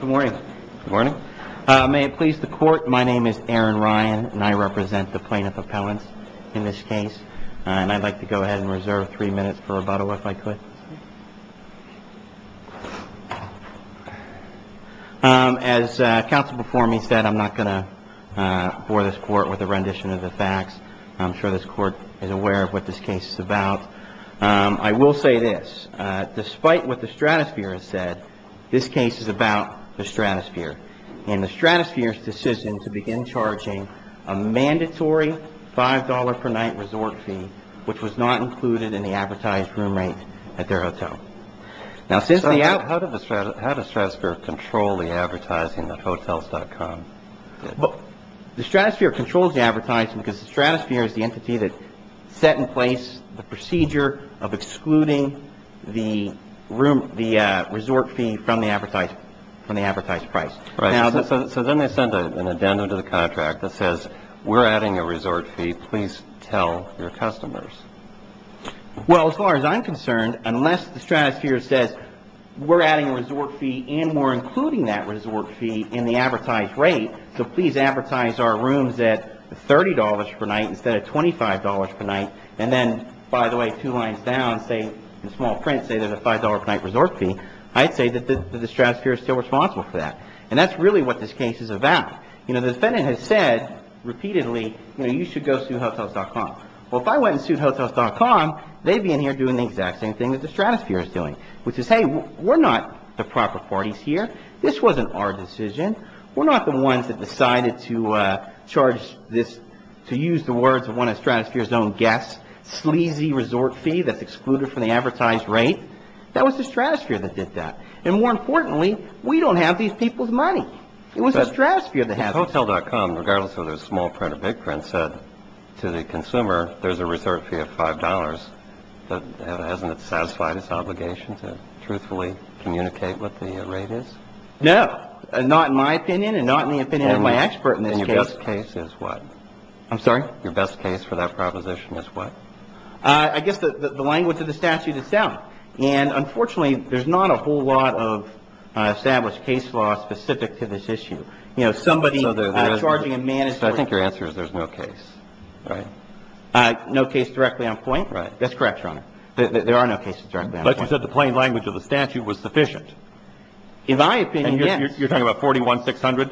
Good morning. May it please the Court, my name is Aaron Ryan and I represent the plaintiff appellants in this case. I'd like to go ahead and reserve three minutes for rebuttal if I could. As counsel before me said, I'm not going to bore this Court with a rendition of the facts. I'm sure this Court is aware of what this case is about. I will say this, despite what the Stratosphere has said, this case is about the Stratosphere and the Stratosphere's decision to begin charging a mandatory $5 per night resort fee, which was not included in the advertised room rate at their hotel. Now, how does Stratosphere control the advertising at hotels.com? The Stratosphere controls the advertising because the Stratosphere is the entity that set in place the procedure of excluding the resort fee from the advertised price. Right. So then they send an addendum to the contract that says, we're adding a resort fee, please tell your customers. Well, as far as I'm concerned, unless the Stratosphere says, we're adding a resort fee and we're including that resort fee in the advertised rate, so please advertise our rooms at $30 per night instead of $25 per night, and then, by the way, two lines down, say, in small print, say there's a $5 per night resort fee, I'd say that the Stratosphere is still responsible for that. And that's really what this case is about. You know, the defendant has said repeatedly, you know, you should go sue hotels.com. Well, if I went and sued hotels.com, they'd be in here doing the exact same thing that the Stratosphere is doing, which is, hey, we're not the proper parties here. This wasn't our decision. We're not the ones that decided to charge this, to use the words of one of Stratosphere's own guests, sleazy resort fee that's excluded from the advertised rate. That was the Stratosphere that did that. And more importantly, we don't have these people's money. It was the Stratosphere that has it. But hotels.com, regardless of whether it's small print or big print, said to the consumer, there's a resort fee of $5.00. Hasn't it satisfied its obligation to truthfully communicate what the rate is? No. Not in my opinion and not in the opinion of my expert in this case. And your best case is what? I'm sorry? Your best case for that proposition is what? I guess the language of the statute itself. And unfortunately, there's not a whole lot of established case law specific to this issue. You know, somebody charging a man is supposed to be charged. I think your answer is there's no case. Right. No case directly on point? Right. That's correct, Your Honor. There are no cases directly on point. But you said the plain language of the statute was sufficient. In my opinion, yes. And you're talking about 41,600?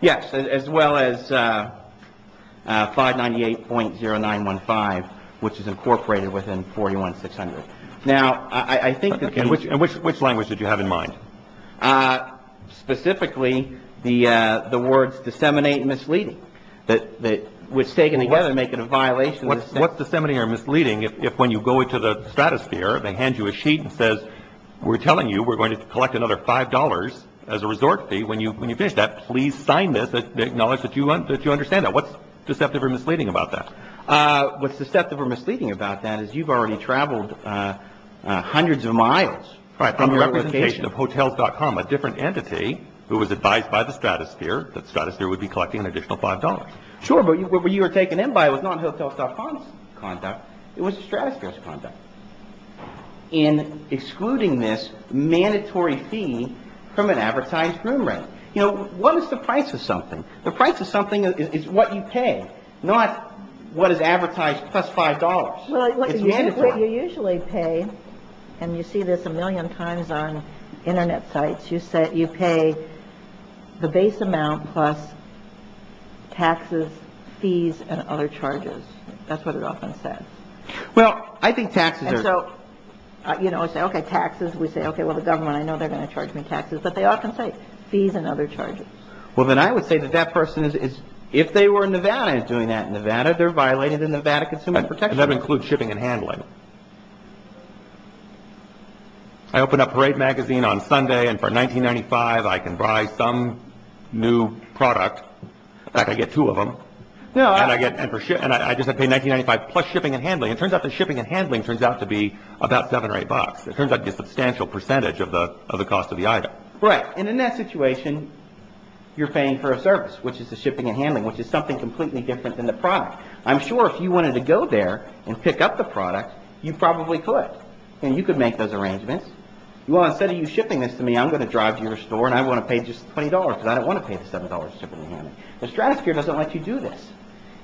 Yes, as well as 598.0915, which is incorporated within 41,600. Now, I think that the case – And which language did you have in mind? Specifically, the words disseminate and misleading, which taken together make it a violation of the statute. What's disseminating or misleading if when you go into the stratosphere, they hand you a sheet and says, we're telling you we're going to collect another $5 as a resort fee. When you finish that, please sign this to acknowledge that you understand that. What's deceptive or misleading about that? What's deceptive or misleading about that is you've already traveled hundreds of miles. Right. On the representation of Hotels.com, a different entity who was advised by the stratosphere that stratosphere would be collecting an additional $5. Sure. But what you were taken in by was not Hotels.com's conduct. It was the stratosphere's conduct in excluding this mandatory fee from an advertised room rate. You know, what is the price of something? The price of something is what you pay, not what is advertised plus $5. Well, you usually pay, and you see this a million times on Internet sites, you pay the base amount plus taxes, fees, and other charges. That's what it often says. Well, I think taxes are. And so, you know, I say, okay, taxes. We say, okay, well, the government, I know they're going to charge me taxes. But they often say fees and other charges. Well, then I would say that that person is, if they were in Nevada, is doing that in Nevada, they're violating the Nevada Consumer Protection Act. And that would include shipping and handling. I open up Parade Magazine on Sunday, and for $19.95, I can buy some new product. In fact, I get two of them. And I just have to pay $19.95 plus shipping and handling. It turns out that shipping and handling turns out to be about $7 or $8. It turns out to be a substantial percentage of the cost of the item. Right. And in that situation, you're paying for a service, which is the shipping and handling, which is something completely different than the product. I'm sure if you wanted to go there and pick up the product, you probably could. And you could make those arrangements. Well, instead of you shipping this to me, I'm going to drive to your store and I want to pay just $20 because I don't want to pay the $7 shipping and handling. The Stratosphere doesn't let you do this.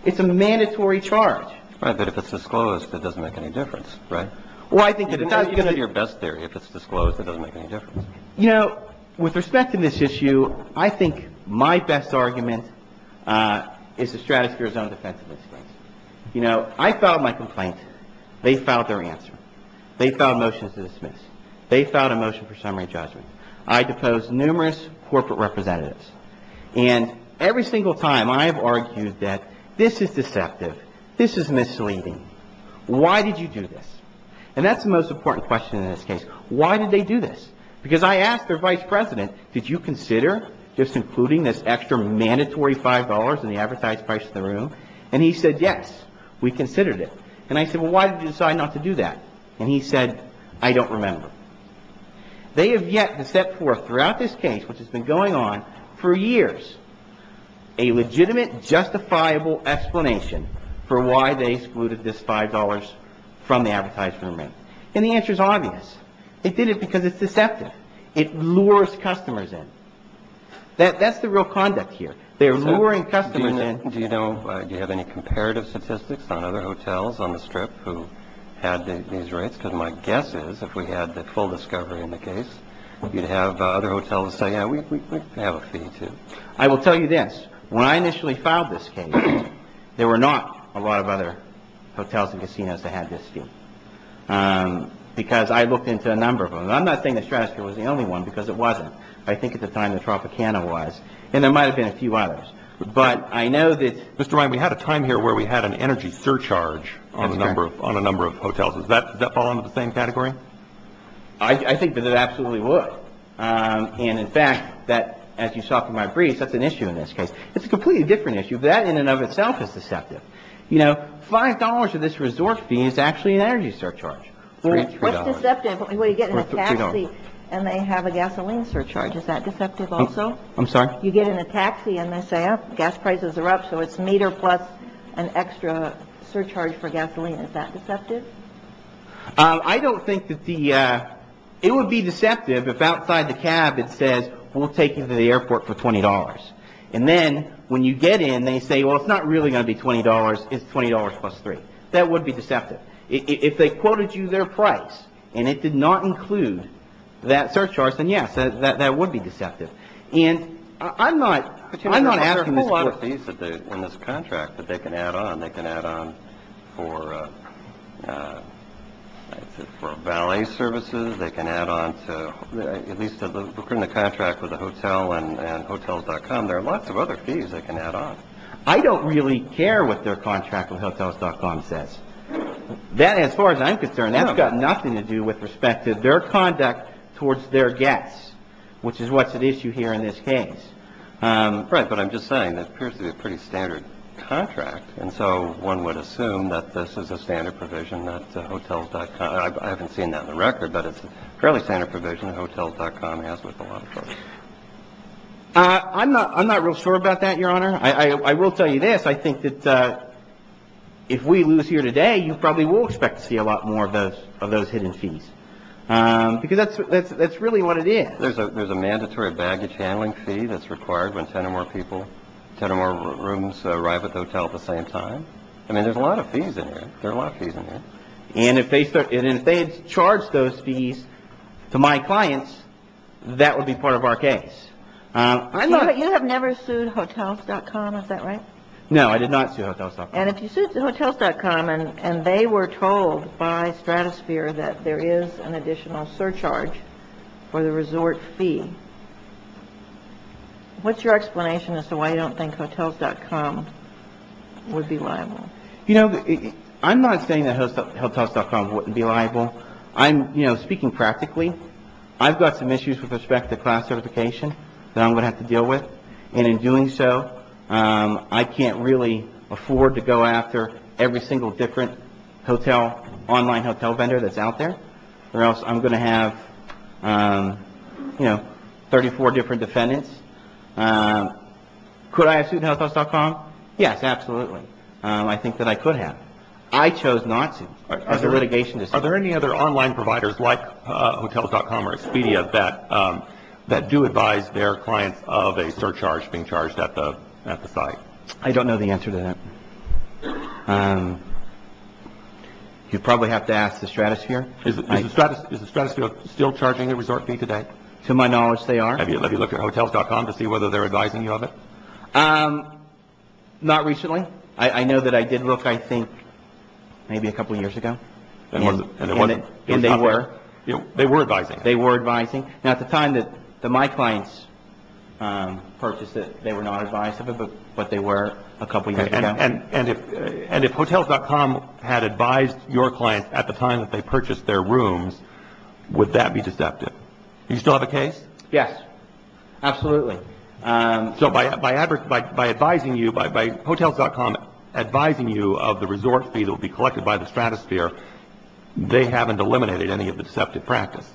It's a mandatory charge. Right. But if it's disclosed, it doesn't make any difference. Well, I think at the time, you're going to. What's your best theory? If it's disclosed, it doesn't make any difference. You know, with respect to this issue, I think my best argument is the Stratosphere's own defense of this case. You know, I filed my complaint. They filed their answer. They filed motions to dismiss. They filed a motion for summary judgment. I deposed numerous corporate representatives. And every single time, I have argued that this is deceptive. This is misleading. Why did you do this? And that's the most important question in this case. Why did they do this? Because I asked their vice president, did you consider just including this extra mandatory $5 in the advertised price in the room? And he said, yes, we considered it. And I said, well, why did you decide not to do that? And he said, I don't remember. They have yet to set forth throughout this case, which has been going on for years, a legitimate, justifiable explanation for why they excluded this $5 from the advertised room rate. And the answer is obvious. It did it because it's deceptive. It lures customers in. That's the real conduct here. They're luring customers in. Do you have any comparative statistics on other hotels on the Strip who had these rates? Because my guess is, if we had the full discovery in the case, you'd have other hotels say, yeah, we have a fee, too. I will tell you this. When I initially filed this case, there were not a lot of other hotels and casinos that had this fee because I looked into a number of them. I'm not saying the Stratosphere was the only one because it wasn't. I think at the time the Tropicana was. And there might have been a few others. But I know that. Mr. Ryan, we had a time here where we had an energy surcharge on a number of hotels. Does that fall into the same category? I think that it absolutely would. And, in fact, that, as you saw from my brief, that's an issue in this case. It's a completely different issue. That in and of itself is deceptive. You know, $5 of this resort fee is actually an energy surcharge. What's deceptive? Well, you get in a taxi and they have a gasoline surcharge. Is that deceptive also? I'm sorry? You get in a taxi and they say, oh, gas prices are up, so it's a meter plus an extra surcharge for gasoline. Is that deceptive? I don't think that the – it would be deceptive if outside the cab it says, we'll take you to the airport for $20. And then when you get in, they say, well, it's not really going to be $20. It's $20 plus three. That would be deceptive. If they quoted you their price and it did not include that surcharge, then, yes, that would be deceptive. And I'm not – I'm not asking this for – I don't really care what their contract with Hotels.com says. That, as far as I'm concerned, that's got nothing to do with respect to their conduct towards their guests, which is what's at issue here in this case. Right. But I'm just saying, it appears to be a contract. It's a pretty standard contract. And so one would assume that this is a standard provision that Hotels.com – I haven't seen that in the record, but it's a fairly standard provision that Hotels.com has with a lot of folks. I'm not – I'm not real sure about that, Your Honor. I will tell you this. I think that if we lose here today, you probably will expect to see a lot more of those – of those hidden fees. Because that's – that's really what it is. There's a – there's a mandatory baggage handling fee that's required when 10 or more people – 10 or more rooms arrive at the hotel at the same time. I mean, there's a lot of fees in there. There are a lot of fees in there. And if they start – and if they charge those fees to my clients, that would be part of our case. I'm not – You have never sued Hotels.com. Is that right? No, I did not sue Hotels.com. And if you sued Hotels.com and they were told by Stratosphere that there is an additional surcharge for the resort fee, what's your explanation as to why you don't think Hotels.com would be liable? You know, I'm not saying that Hotels.com wouldn't be liable. I'm, you know, speaking practically. I've got some issues with respect to class certification that I'm going to have to deal with. And in doing so, I can't really afford to go after every single different hotel – online hotel vendor that's out there. Or else I'm going to have, you know, 34 different defendants. Could I have sued Hotels.com? Yes, absolutely. I think that I could have. I chose not to as a litigation decision. Are there any other online providers like Hotels.com or Expedia that do advise their clients of a surcharge being charged at the site? I don't know the answer to that. You'd probably have to ask the Stratosphere. Is the Stratosphere still charging a resort fee today? To my knowledge, they are. Have you looked at Hotels.com to see whether they're advising you of it? Not recently. I know that I did look, I think, maybe a couple years ago. And they were? They were advising. They were advising. Now, at the time that my clients purchased it, they were not advised of it, but they were a couple years ago. And if Hotels.com had advised your clients at the time that they purchased their rooms, would that be deceptive? Do you still have a case? Yes, absolutely. So by advising you, by Hotels.com advising you of the resort fee that will be collected by the Stratosphere, they haven't eliminated any of the deceptive practice?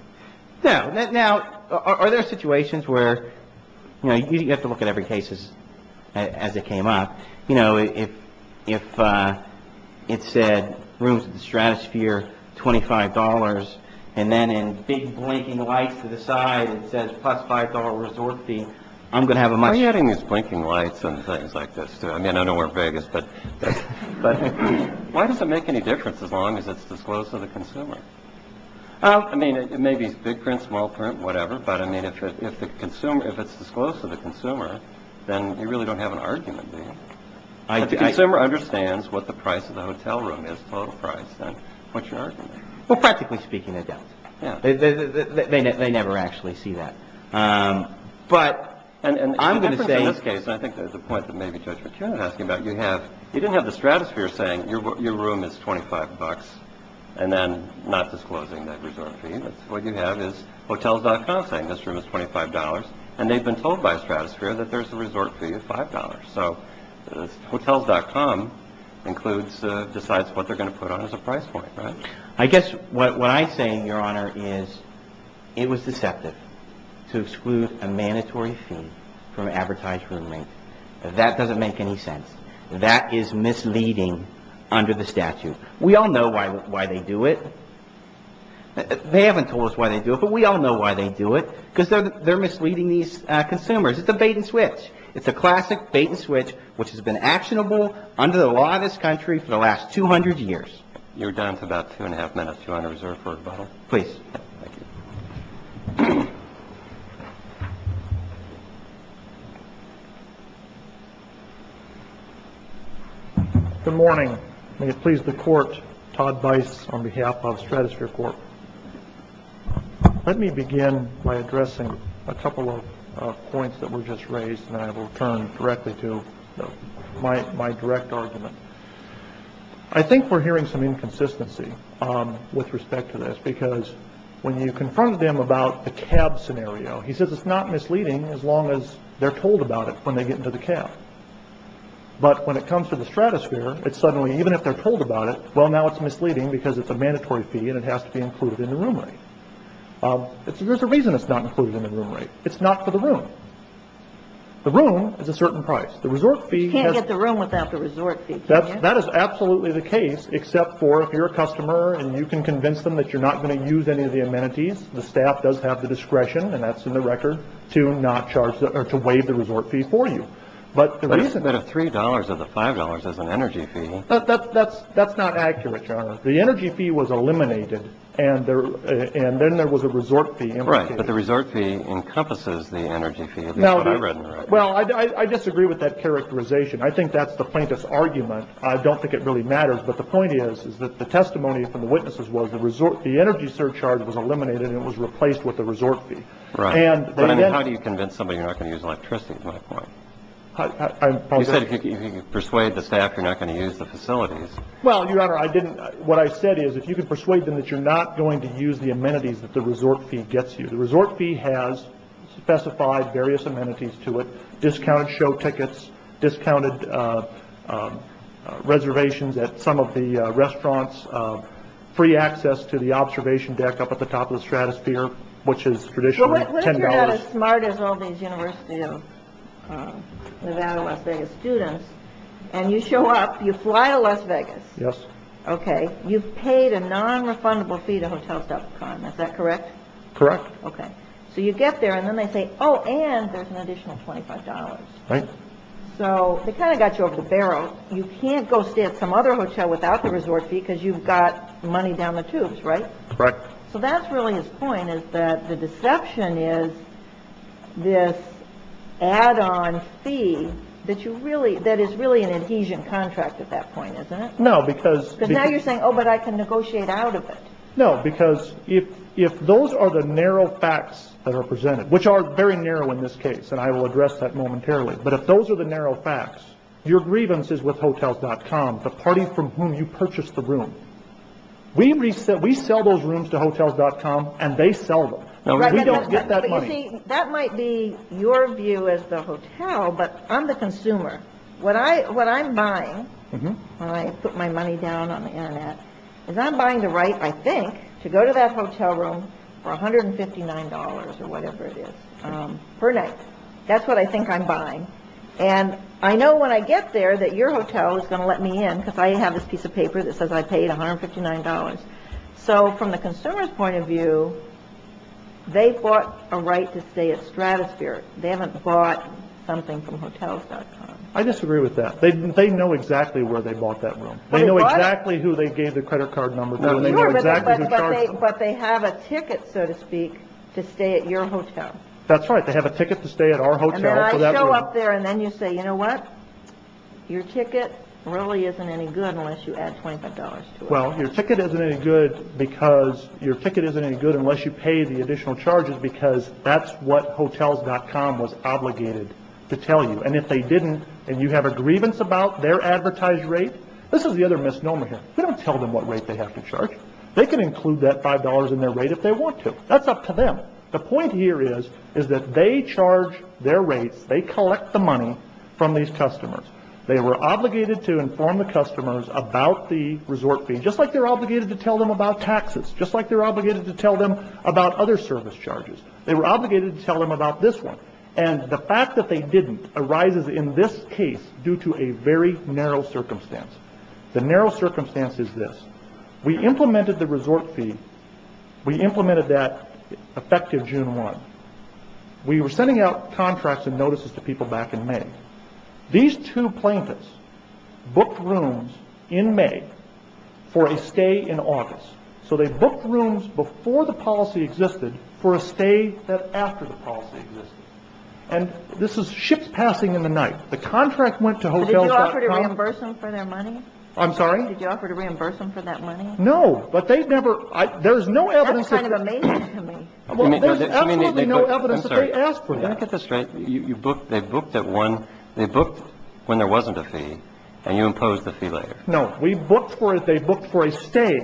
No. Now, are there situations where, you know, you have to look at every case as it came up. You know, if it said rooms at the Stratosphere, $25, and then in big blinking lights to the side it says plus $5 resort fee, I'm going to have a much. Why are you adding these blinking lights and things like this to it? I mean, I know we're in Vegas, but why does it make any difference as long as it's disclosed to the consumer? I mean, it may be big print, small print, whatever. But I mean, if it's disclosed to the consumer, then you really don't have an argument. If the consumer understands what the price of the hotel room is, total price, then what's your argument? Well, practically speaking, they don't. They never actually see that. But in this case, I think there's a point that maybe Judge McCune is asking about. You didn't have the Stratosphere saying your room is $25 and then not disclosing that resort fee. What you have is Hotels.com saying this room is $25, and they've been told by Stratosphere that there's a resort fee of $5. So Hotels.com decides what they're going to put on as a price point, right? I guess what I say, Your Honor, is it was deceptive to exclude a mandatory fee from an advertised room rate. That doesn't make any sense. That is misleading under the statute. We all know why they do it. They haven't told us why they do it, but we all know why they do it, because they're misleading these consumers. It's a bait-and-switch. It's a classic bait-and-switch which has been actionable under the law of this country for the last 200 years. You're down to about two and a half minutes, Your Honor, reserved for rebuttal. Please. Good morning. May it please the Court, Todd Bice on behalf of Stratosphere Court. Let me begin by addressing a couple of points that were just raised, and then I will turn directly to my direct argument. I think we're hearing some inconsistency with respect to this, because when you confront them about the cab scenario, he says it's not misleading as long as they're told about it when they get into the cab. But when it comes to the Stratosphere, it's suddenly, even if they're told about it, well, now it's misleading because it's a mandatory fee and it has to be included in the room rate. There's a reason it's not included in the room rate. It's not for the room. The room is a certain price. You can't get the room without the resort fee, can you? That is absolutely the case, except for if you're a customer and you can convince them that you're not going to use any of the amenities, the staff does have the discretion, and that's in the record, to not charge or to waive the resort fee for you. But isn't that a $3 of the $5 as an energy fee? That's not accurate, Your Honor. The energy fee was eliminated, and then there was a resort fee. Right, but the resort fee encompasses the energy fee, at least what I read in the record. Well, I disagree with that characterization. I think that's the plaintiff's argument. I don't think it really matters. But the point is, is that the testimony from the witnesses was the energy surcharge was eliminated and it was replaced with the resort fee. Right. How do you convince somebody you're not going to use electricity, is my point. You said if you could persuade the staff you're not going to use the facilities. Well, Your Honor, I didn't. What I said is if you could persuade them that you're not going to use the amenities that the resort fee gets you, the resort fee has specified various amenities to it, discounted show tickets, discounted reservations at some of the restaurants, free access to the observation deck up at the top of the stratosphere, which is traditionally $10. Well, what if you're not as smart as all these University of Nevada, Las Vegas students, and you show up, you fly to Las Vegas. Yes. Okay. You've paid a nonrefundable fee to Hotels.com. Is that correct? Correct. Okay. So you get there and then they say, oh, and there's an additional $25. Right. So they kind of got you over the barrel. You can't go stay at some other hotel without the resort fee because you've got money down the tubes, right? Correct. So that's really his point is that the deception is this add-on fee that you really – that is really an adhesion contract at that point, isn't it? No, because – Because now you're saying, oh, but I can negotiate out of it. No, because if those are the narrow facts that are presented, which are very narrow in this case, and I will address that momentarily, but if those are the narrow facts, your grievance is with Hotels.com, the party from whom you purchased the room. We sell those rooms to Hotels.com and they sell them. We don't get that money. But, you see, that might be your view as the hotel, but I'm the consumer. What I'm buying, when I put my money down on the Internet, is I'm buying the right, I think, to go to that hotel room for $159 or whatever it is per night. That's what I think I'm buying. And I know when I get there that your hotel is going to let me in because I have this piece of paper that says I paid $159. So from the consumer's point of view, they've bought a right to stay at Stratosphere. They haven't bought something from Hotels.com. I disagree with that. They know exactly where they bought that room. They know exactly who they gave the credit card number to. But they have a ticket, so to speak, to stay at your hotel. That's right. They have a ticket to stay at our hotel for that room. And then I show up there and then you say, you know what? Your ticket really isn't any good unless you add $25 to it. Well, your ticket isn't any good because your ticket isn't any good Hotels.com was obligated to tell you. And if they didn't and you have a grievance about their advertised rate, this is the other misnomer here. We don't tell them what rate they have to charge. They can include that $5 in their rate if they want to. That's up to them. The point here is that they charge their rates. They collect the money from these customers. They were obligated to inform the customers about the resort fee, just like they're obligated to tell them about taxes, just like they're obligated to tell them about other service charges. They were obligated to tell them about this one. And the fact that they didn't arises in this case due to a very narrow circumstance. The narrow circumstance is this. We implemented the resort fee. We implemented that effective June 1. We were sending out contracts and notices to people back in May. These two plaintiffs booked rooms in May for a stay in August. So they booked rooms before the policy existed for a stay that after the policy existed. And this is ship passing in the night. The contract went to hotels.com. Did you offer to reimburse them for their money? I'm sorry? Did you offer to reimburse them for that money? No. But they never – there's no evidence that – That's kind of amazing to me. Well, there's absolutely no evidence that they asked for that. Let me get this straight. They booked at one – they booked when there wasn't a fee and you imposed the fee later. No. We booked for – they booked for a stay.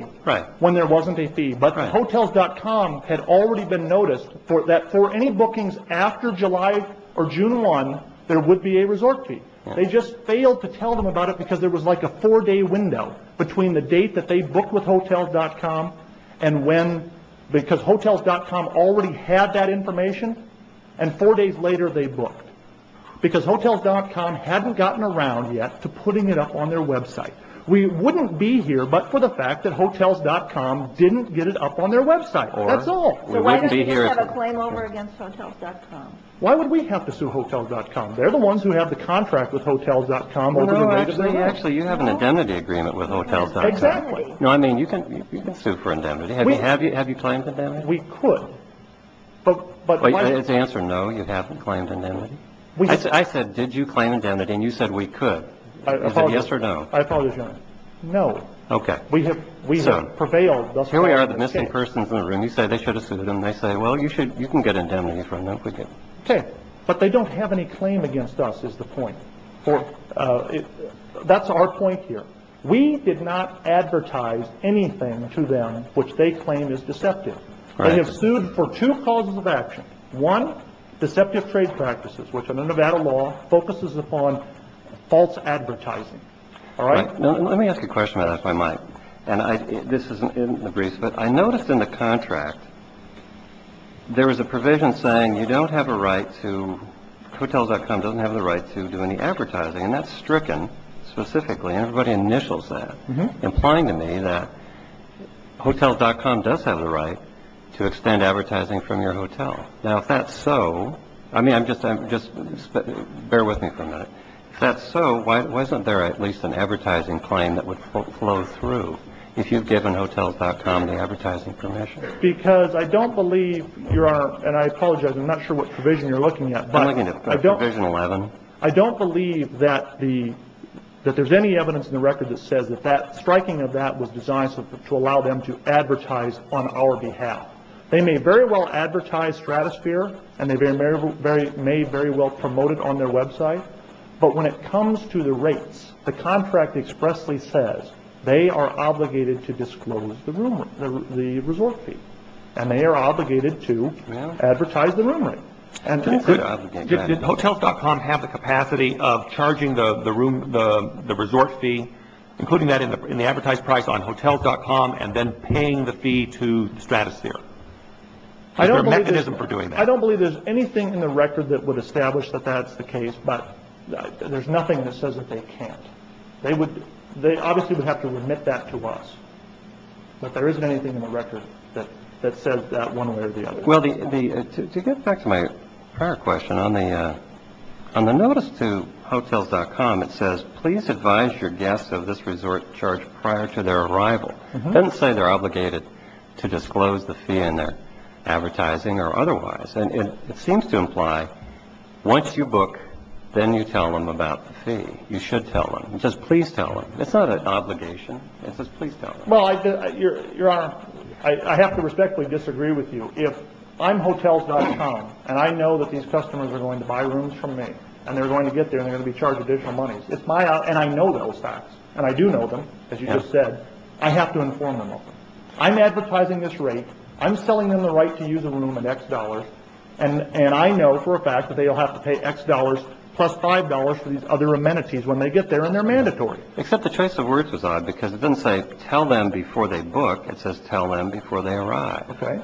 When there wasn't a fee. But hotels.com had already been noticed that for any bookings after July or June 1, there would be a resort fee. They just failed to tell them about it because there was like a four-day window between the date that they booked with hotels.com and when – because hotels.com already had that information and four days later they booked. Because hotels.com hadn't gotten around yet to putting it up on their website. We wouldn't be here but for the fact that hotels.com didn't get it up on their website. That's all. So why didn't you just have a claim over against hotels.com? Why would we have to sue hotels.com? They're the ones who have the contract with hotels.com. Actually, you have an indemnity agreement with hotels.com. Exactly. No, I mean you can sue for indemnity. Have you claimed indemnity? We could. But – The answer is no, you haven't claimed indemnity. I said did you claim indemnity and you said we could. Is it yes or no? I apologize, Your Honor. No. Okay. We have prevailed. Here we are, the missing person is in the room. You say they should have sued them. They say, well, you can get indemnity from them if we do. Okay. But they don't have any claim against us is the point. That's our point here. We did not advertise anything to them which they claim is deceptive. They have sued for two causes of action. One, deceptive trade practices, which under Nevada law focuses upon false advertising. All right? Let me ask you a question about that if I might. And this isn't in the briefs, but I noticed in the contract there was a provision saying you don't have a right to – hotels.com doesn't have the right to do any advertising. And that's stricken specifically. Everybody initials that, implying to me that hotels.com does have the right to extend advertising from your hotel. Now, if that's so, I mean, just bear with me for a minute. If that's so, wasn't there at least an advertising claim that would flow through if you'd given hotels.com the advertising permission? Because I don't believe, Your Honor, and I apologize, I'm not sure what provision you're looking at. I'm looking at provision 11. I don't believe that there's any evidence in the record that says that striking of that was designed to allow them to advertise on our behalf. They may very well advertise Stratosphere, and they may very well promote it on their website, but when it comes to the rates, the contract expressly says they are obligated to disclose the room rate, the resort fee. And they are obligated to advertise the room rate. Did hotels.com have the capacity of charging the room – the resort fee, including that in the advertised price on hotels.com and then paying the fee to Stratosphere? Is there a mechanism for doing that? I don't believe there's anything in the record that would establish that that's the case, but there's nothing that says that they can't. They obviously would have to remit that to us, but there isn't anything in the record that says that one way or the other. Well, to get back to my prior question, on the notice to hotels.com, it says, please advise your guests of this resort charge prior to their arrival. It doesn't say they're obligated to disclose the fee in their advertising or otherwise. And it seems to imply once you book, then you tell them about the fee. You should tell them. It says please tell them. It's not an obligation. It says please tell them. Well, Your Honor, I have to respectfully disagree with you. If I'm hotels.com, and I know that these customers are going to buy rooms from me, and they're going to get there and they're going to be charged additional money, and I know those facts, and I do know them, as you just said, I have to inform them of them. I'm advertising this rate. I'm selling them the right to use a room at X dollars, and I know for a fact that they'll have to pay X dollars plus $5 for these other amenities when they get there, and they're mandatory. Except the choice of words was odd because it didn't say tell them before they book. It says tell them before they arrive. Okay.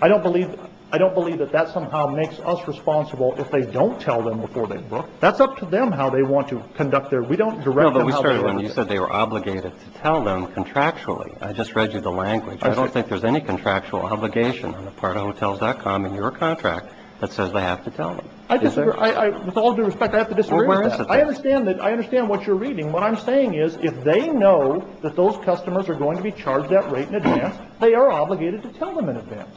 I don't believe I don't believe that that somehow makes us responsible if they don't tell them before they book. That's up to them how they want to conduct their. We don't know. But we started when you said they were obligated to tell them contractually. I just read you the language. I don't think there's any contractual obligation on the part of hotels.com in your contract that says they have to tell me. I disagree with all due respect. I have to disagree. I understand that. I understand what you're reading. What I'm saying is if they know that those customers are going to be charged that rate in advance, they are obligated to tell them in advance.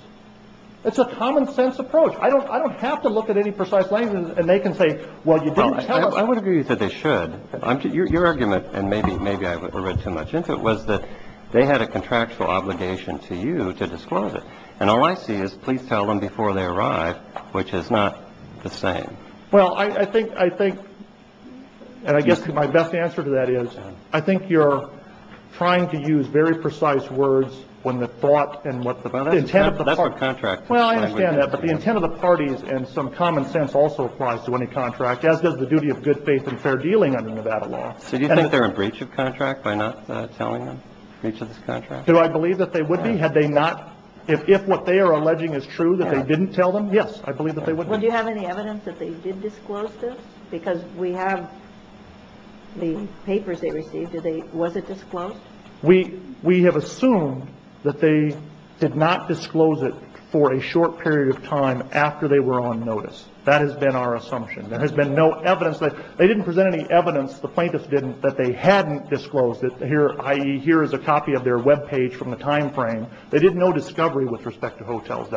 It's a common sense approach. I don't I don't have to look at any precise language. And they can say, well, you don't. I would agree that they should. I'm your argument. And maybe maybe I read too much. If it was that they had a contractual obligation to you to disclose it. And all I see is please tell them before they arrive, which is not the same. Well, I think I think. And I guess my best answer to that is I think you're trying to use very precise words when the thought and what the intent of the contract. Well, I understand that. But the intent of the parties and some common sense also applies to any contract, as does the duty of good faith and fair dealing under Nevada law. So you think they're a breach of contract by not telling them each of this contract? Do I believe that they would be had they not if what they are alleging is true, that they didn't tell them? Yes, I believe that they would. Well, do you have any evidence that they did disclose this? Because we have the papers they received today. Was it disclosed? We we have assumed that they did not disclose it for a short period of time after they were on notice. That has been our assumption. There has been no evidence that they didn't present any evidence. The plaintiffs didn't that they hadn't disclosed it here. I hear is a copy of their Web page from the time frame. They did no discovery with respect to hotels.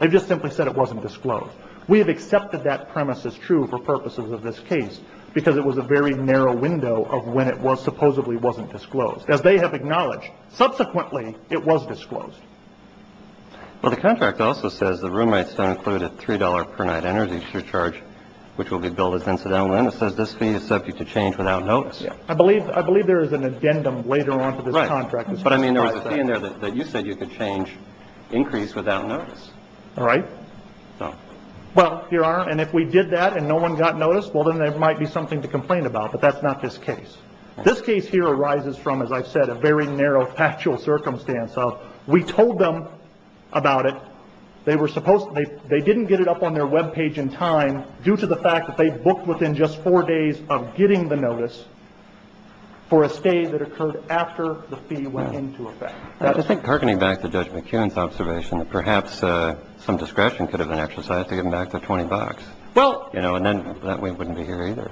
They just simply said it wasn't disclosed. We have accepted that premise is true for purposes of this case because it was a very narrow window of when it was supposedly wasn't disclosed, as they have acknowledged. Subsequently, it was disclosed. Well, the contract also says the roommates don't include a three dollar per night energy surcharge, which will be billed as incidental. And it says this fee is subject to change without notice. I believe I believe there is an addendum later on to this contract. But I mean, there was a fee in there that you said you could change increase without notice. All right. Well, here are. And if we did that and no one got notice, well, then there might be something to complain about. But that's not this case. This case here arises from, as I've said, a very narrow factual circumstance. So we told them about it. They were supposed to. They didn't get it up on their Web page in time due to the fact that they booked within just four days of getting the notice. So the fee is subject to change without notice. And the rest of the case is the same, just for a stay that occurred after the fee went into effect. I think harkening back to Judge McKeon's observation that perhaps some discretion could have been exercised to get back the 20 bucks. Well, you know, and then that we wouldn't be here, either.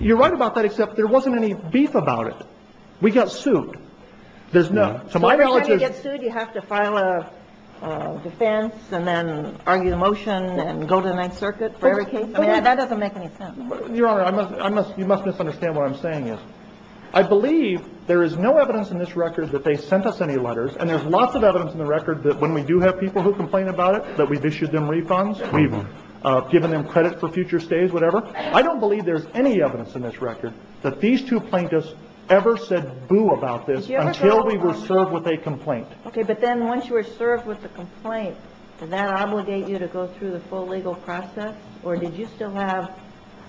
You're right about that. Except there wasn't any beef about it. We got sued. There's no. So my knowledge is you have to file a defense and then argue the motion and go to the Ninth Circuit for every case. I mean, that doesn't make any sense. Your Honor, I must you must misunderstand what I'm saying is I believe there is no evidence in this record that they sent us any letters. And there's lots of evidence in the record that when we do have people who complain about it, that we've issued them refunds. We've given them credit for future stays, whatever. I don't believe there's any evidence in this record that these two plaintiffs ever said boo about this until we were served with a complaint. Okay. But then once you were served with the complaint, did that obligate you to go through the full legal process? Or did you still have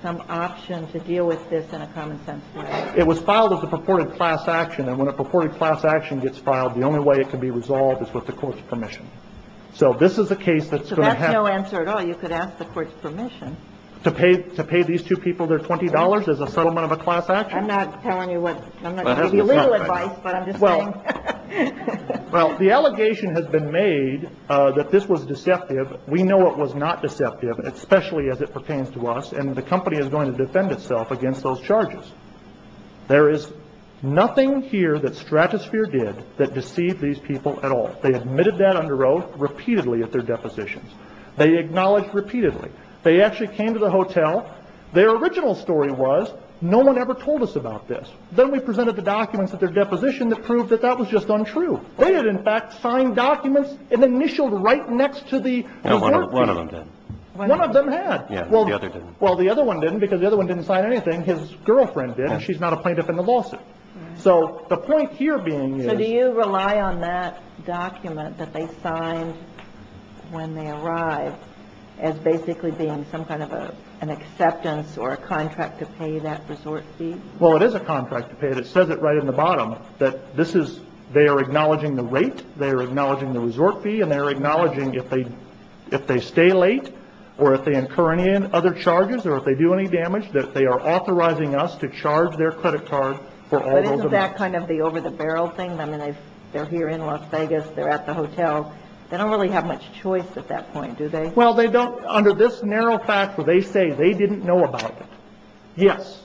some option to deal with this in a common sense way? It was filed as a purported class action. And when a purported class action gets filed, the only way it can be resolved is with the court's permission. So this is a case that's going to happen. So that's no answer at all. You could ask the court's permission. To pay these two people their $20 as a settlement of a class action? I'm not telling you what. I'm not giving you legal advice, but I'm just saying. Well, the allegation has been made that this was deceptive. We know it was not deceptive, especially as it pertains to us. And the company is going to defend itself against those charges. There is nothing here that Stratosphere did that deceived these people at all. They admitted that under oath repeatedly at their depositions. They acknowledged repeatedly. They actually came to the hotel. Their original story was no one ever told us about this. Then we presented the documents at their deposition that proved that that was just untrue. They had, in fact, signed documents and initialed right next to the court fee. One of them did. One of them had. Well, the other didn't. Well, the other one didn't because the other one didn't sign anything. His girlfriend did. And she's not a plaintiff in the lawsuit. So the point here being is. Do you rely on that document that they signed when they arrived as basically being some kind of an acceptance or a contract to pay that resort fee? Well, it is a contract to pay it. It says it right in the bottom that this is they are acknowledging the rate, they are acknowledging the resort fee, and they are acknowledging if they stay late or if they incur any other charges or if they do any damage, that they are authorizing us to charge their credit card for all those events. Is that kind of the over-the-barrel thing? I mean, they're here in Las Vegas. They're at the hotel. They don't really have much choice at that point, do they? Well, they don't under this narrow fact where they say they didn't know about it. Yes,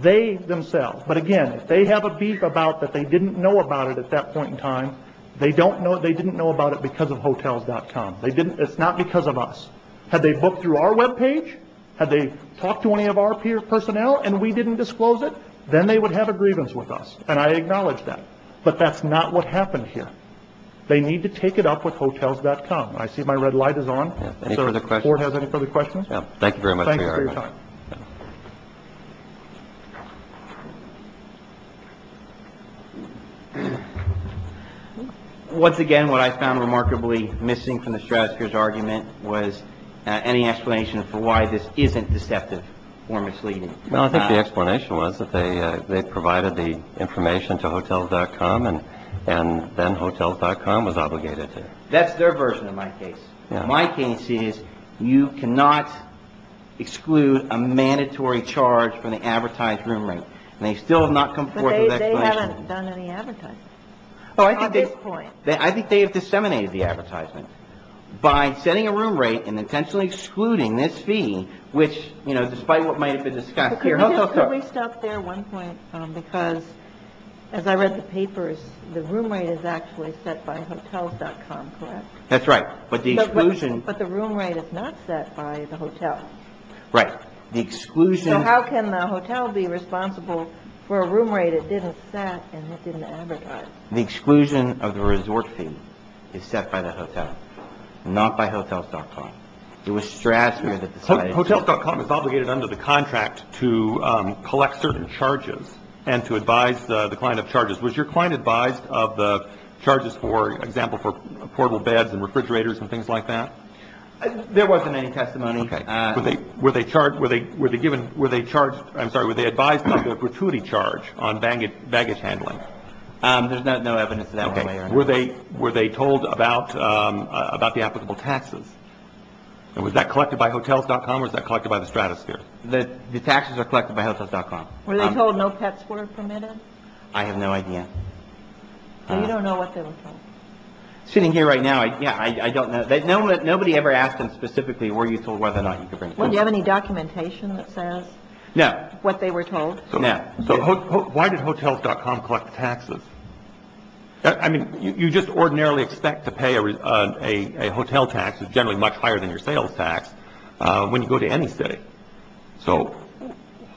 they themselves. But, again, if they have a beef about that they didn't know about it at that point in time, they don't know they didn't know about it because of hotels.com. It's not because of us. Had they booked through our webpage? Had they talked to any of our personnel and we didn't disclose it? Then they would have a grievance with us. And I acknowledge that. But that's not what happened here. They need to take it up with hotels.com. I see my red light is on. Any further questions? Does the Court have any further questions? No. Thank you very much for your time. Thanks for your time. Once again, what I found remarkably missing from the strategist's argument was any explanation for why this isn't deceptive or misleading. Well, I think the explanation was that they provided the information to hotels.com and then hotels.com was obligated to. That's their version of my case. My case is you cannot exclude a mandatory charge from the advertised room rate. And they still have not come forth with an explanation. But they haven't done any advertising. At this point. I think they have disseminated the advertisement. By setting a room rate and intentionally excluding this fee, which, you know, despite what might have been discussed here. Could we stop there one point? Because as I read the papers, the room rate is actually set by hotels.com, correct? That's right. But the exclusion. But the room rate is not set by the hotel. Right. The exclusion. So how can the hotel be responsible for a room rate it didn't set and it didn't advertise? The exclusion of the resort fee is set by the hotel, not by hotels.com. It was stressed. Hotels.com is obligated under the contract to collect certain charges and to advise the client of charges. Was your client advised of the charges for example, for portable beds and refrigerators and things like that? There wasn't any testimony. Okay. Were they charged? Were they given? Were they charged? I'm sorry. Were they advised of the gratuity charge on baggage handling? There's no evidence of that. Were they told about the applicable taxes? Was that collected by hotels.com or was that collected by the stratosphere? The taxes are collected by hotels.com. Were they told no pets were permitted? I have no idea. You don't know what they were told? Sitting here right now. Yeah. I don't know. Nobody ever asked him specifically were you told whether or not you could bring pets. Do you have any documentation that says what they were told? No. Why did hotels.com collect taxes? I mean, you just ordinarily expect to pay a hotel tax, which is generally much higher than your sales tax, when you go to any city. So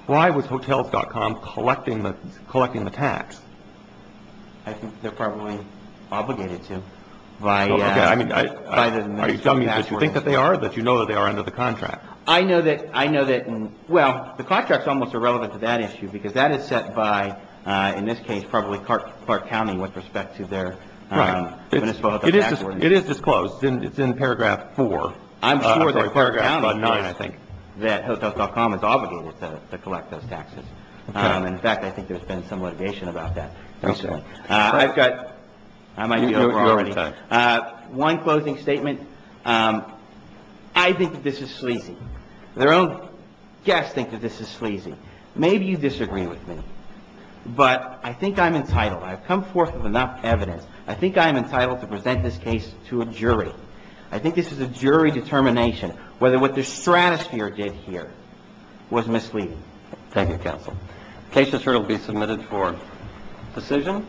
why was hotels.com collecting the tax? I think they're probably obligated to. Okay. Are you telling me that you think that they are or that you know that they are under the contract? I know that the contract is almost irrelevant to that issue because that is set by, in this case, probably Clark County with respect to their municipal tax ordinance. It is disclosed. It's in paragraph 4. I'm sure that Clark County is, I think, that hotels.com is obligated to collect those taxes. In fact, I think there's been some litigation about that recently. I've got one closing statement. I think that this is sleazy. Their own guests think that this is sleazy. Maybe you disagree with me, but I think I'm entitled. I've come forth with enough evidence. I think I am entitled to present this case to a jury. I think this is a jury determination whether what the stratosphere did here was misleading. Thank you, counsel. The case is here to be submitted for decision.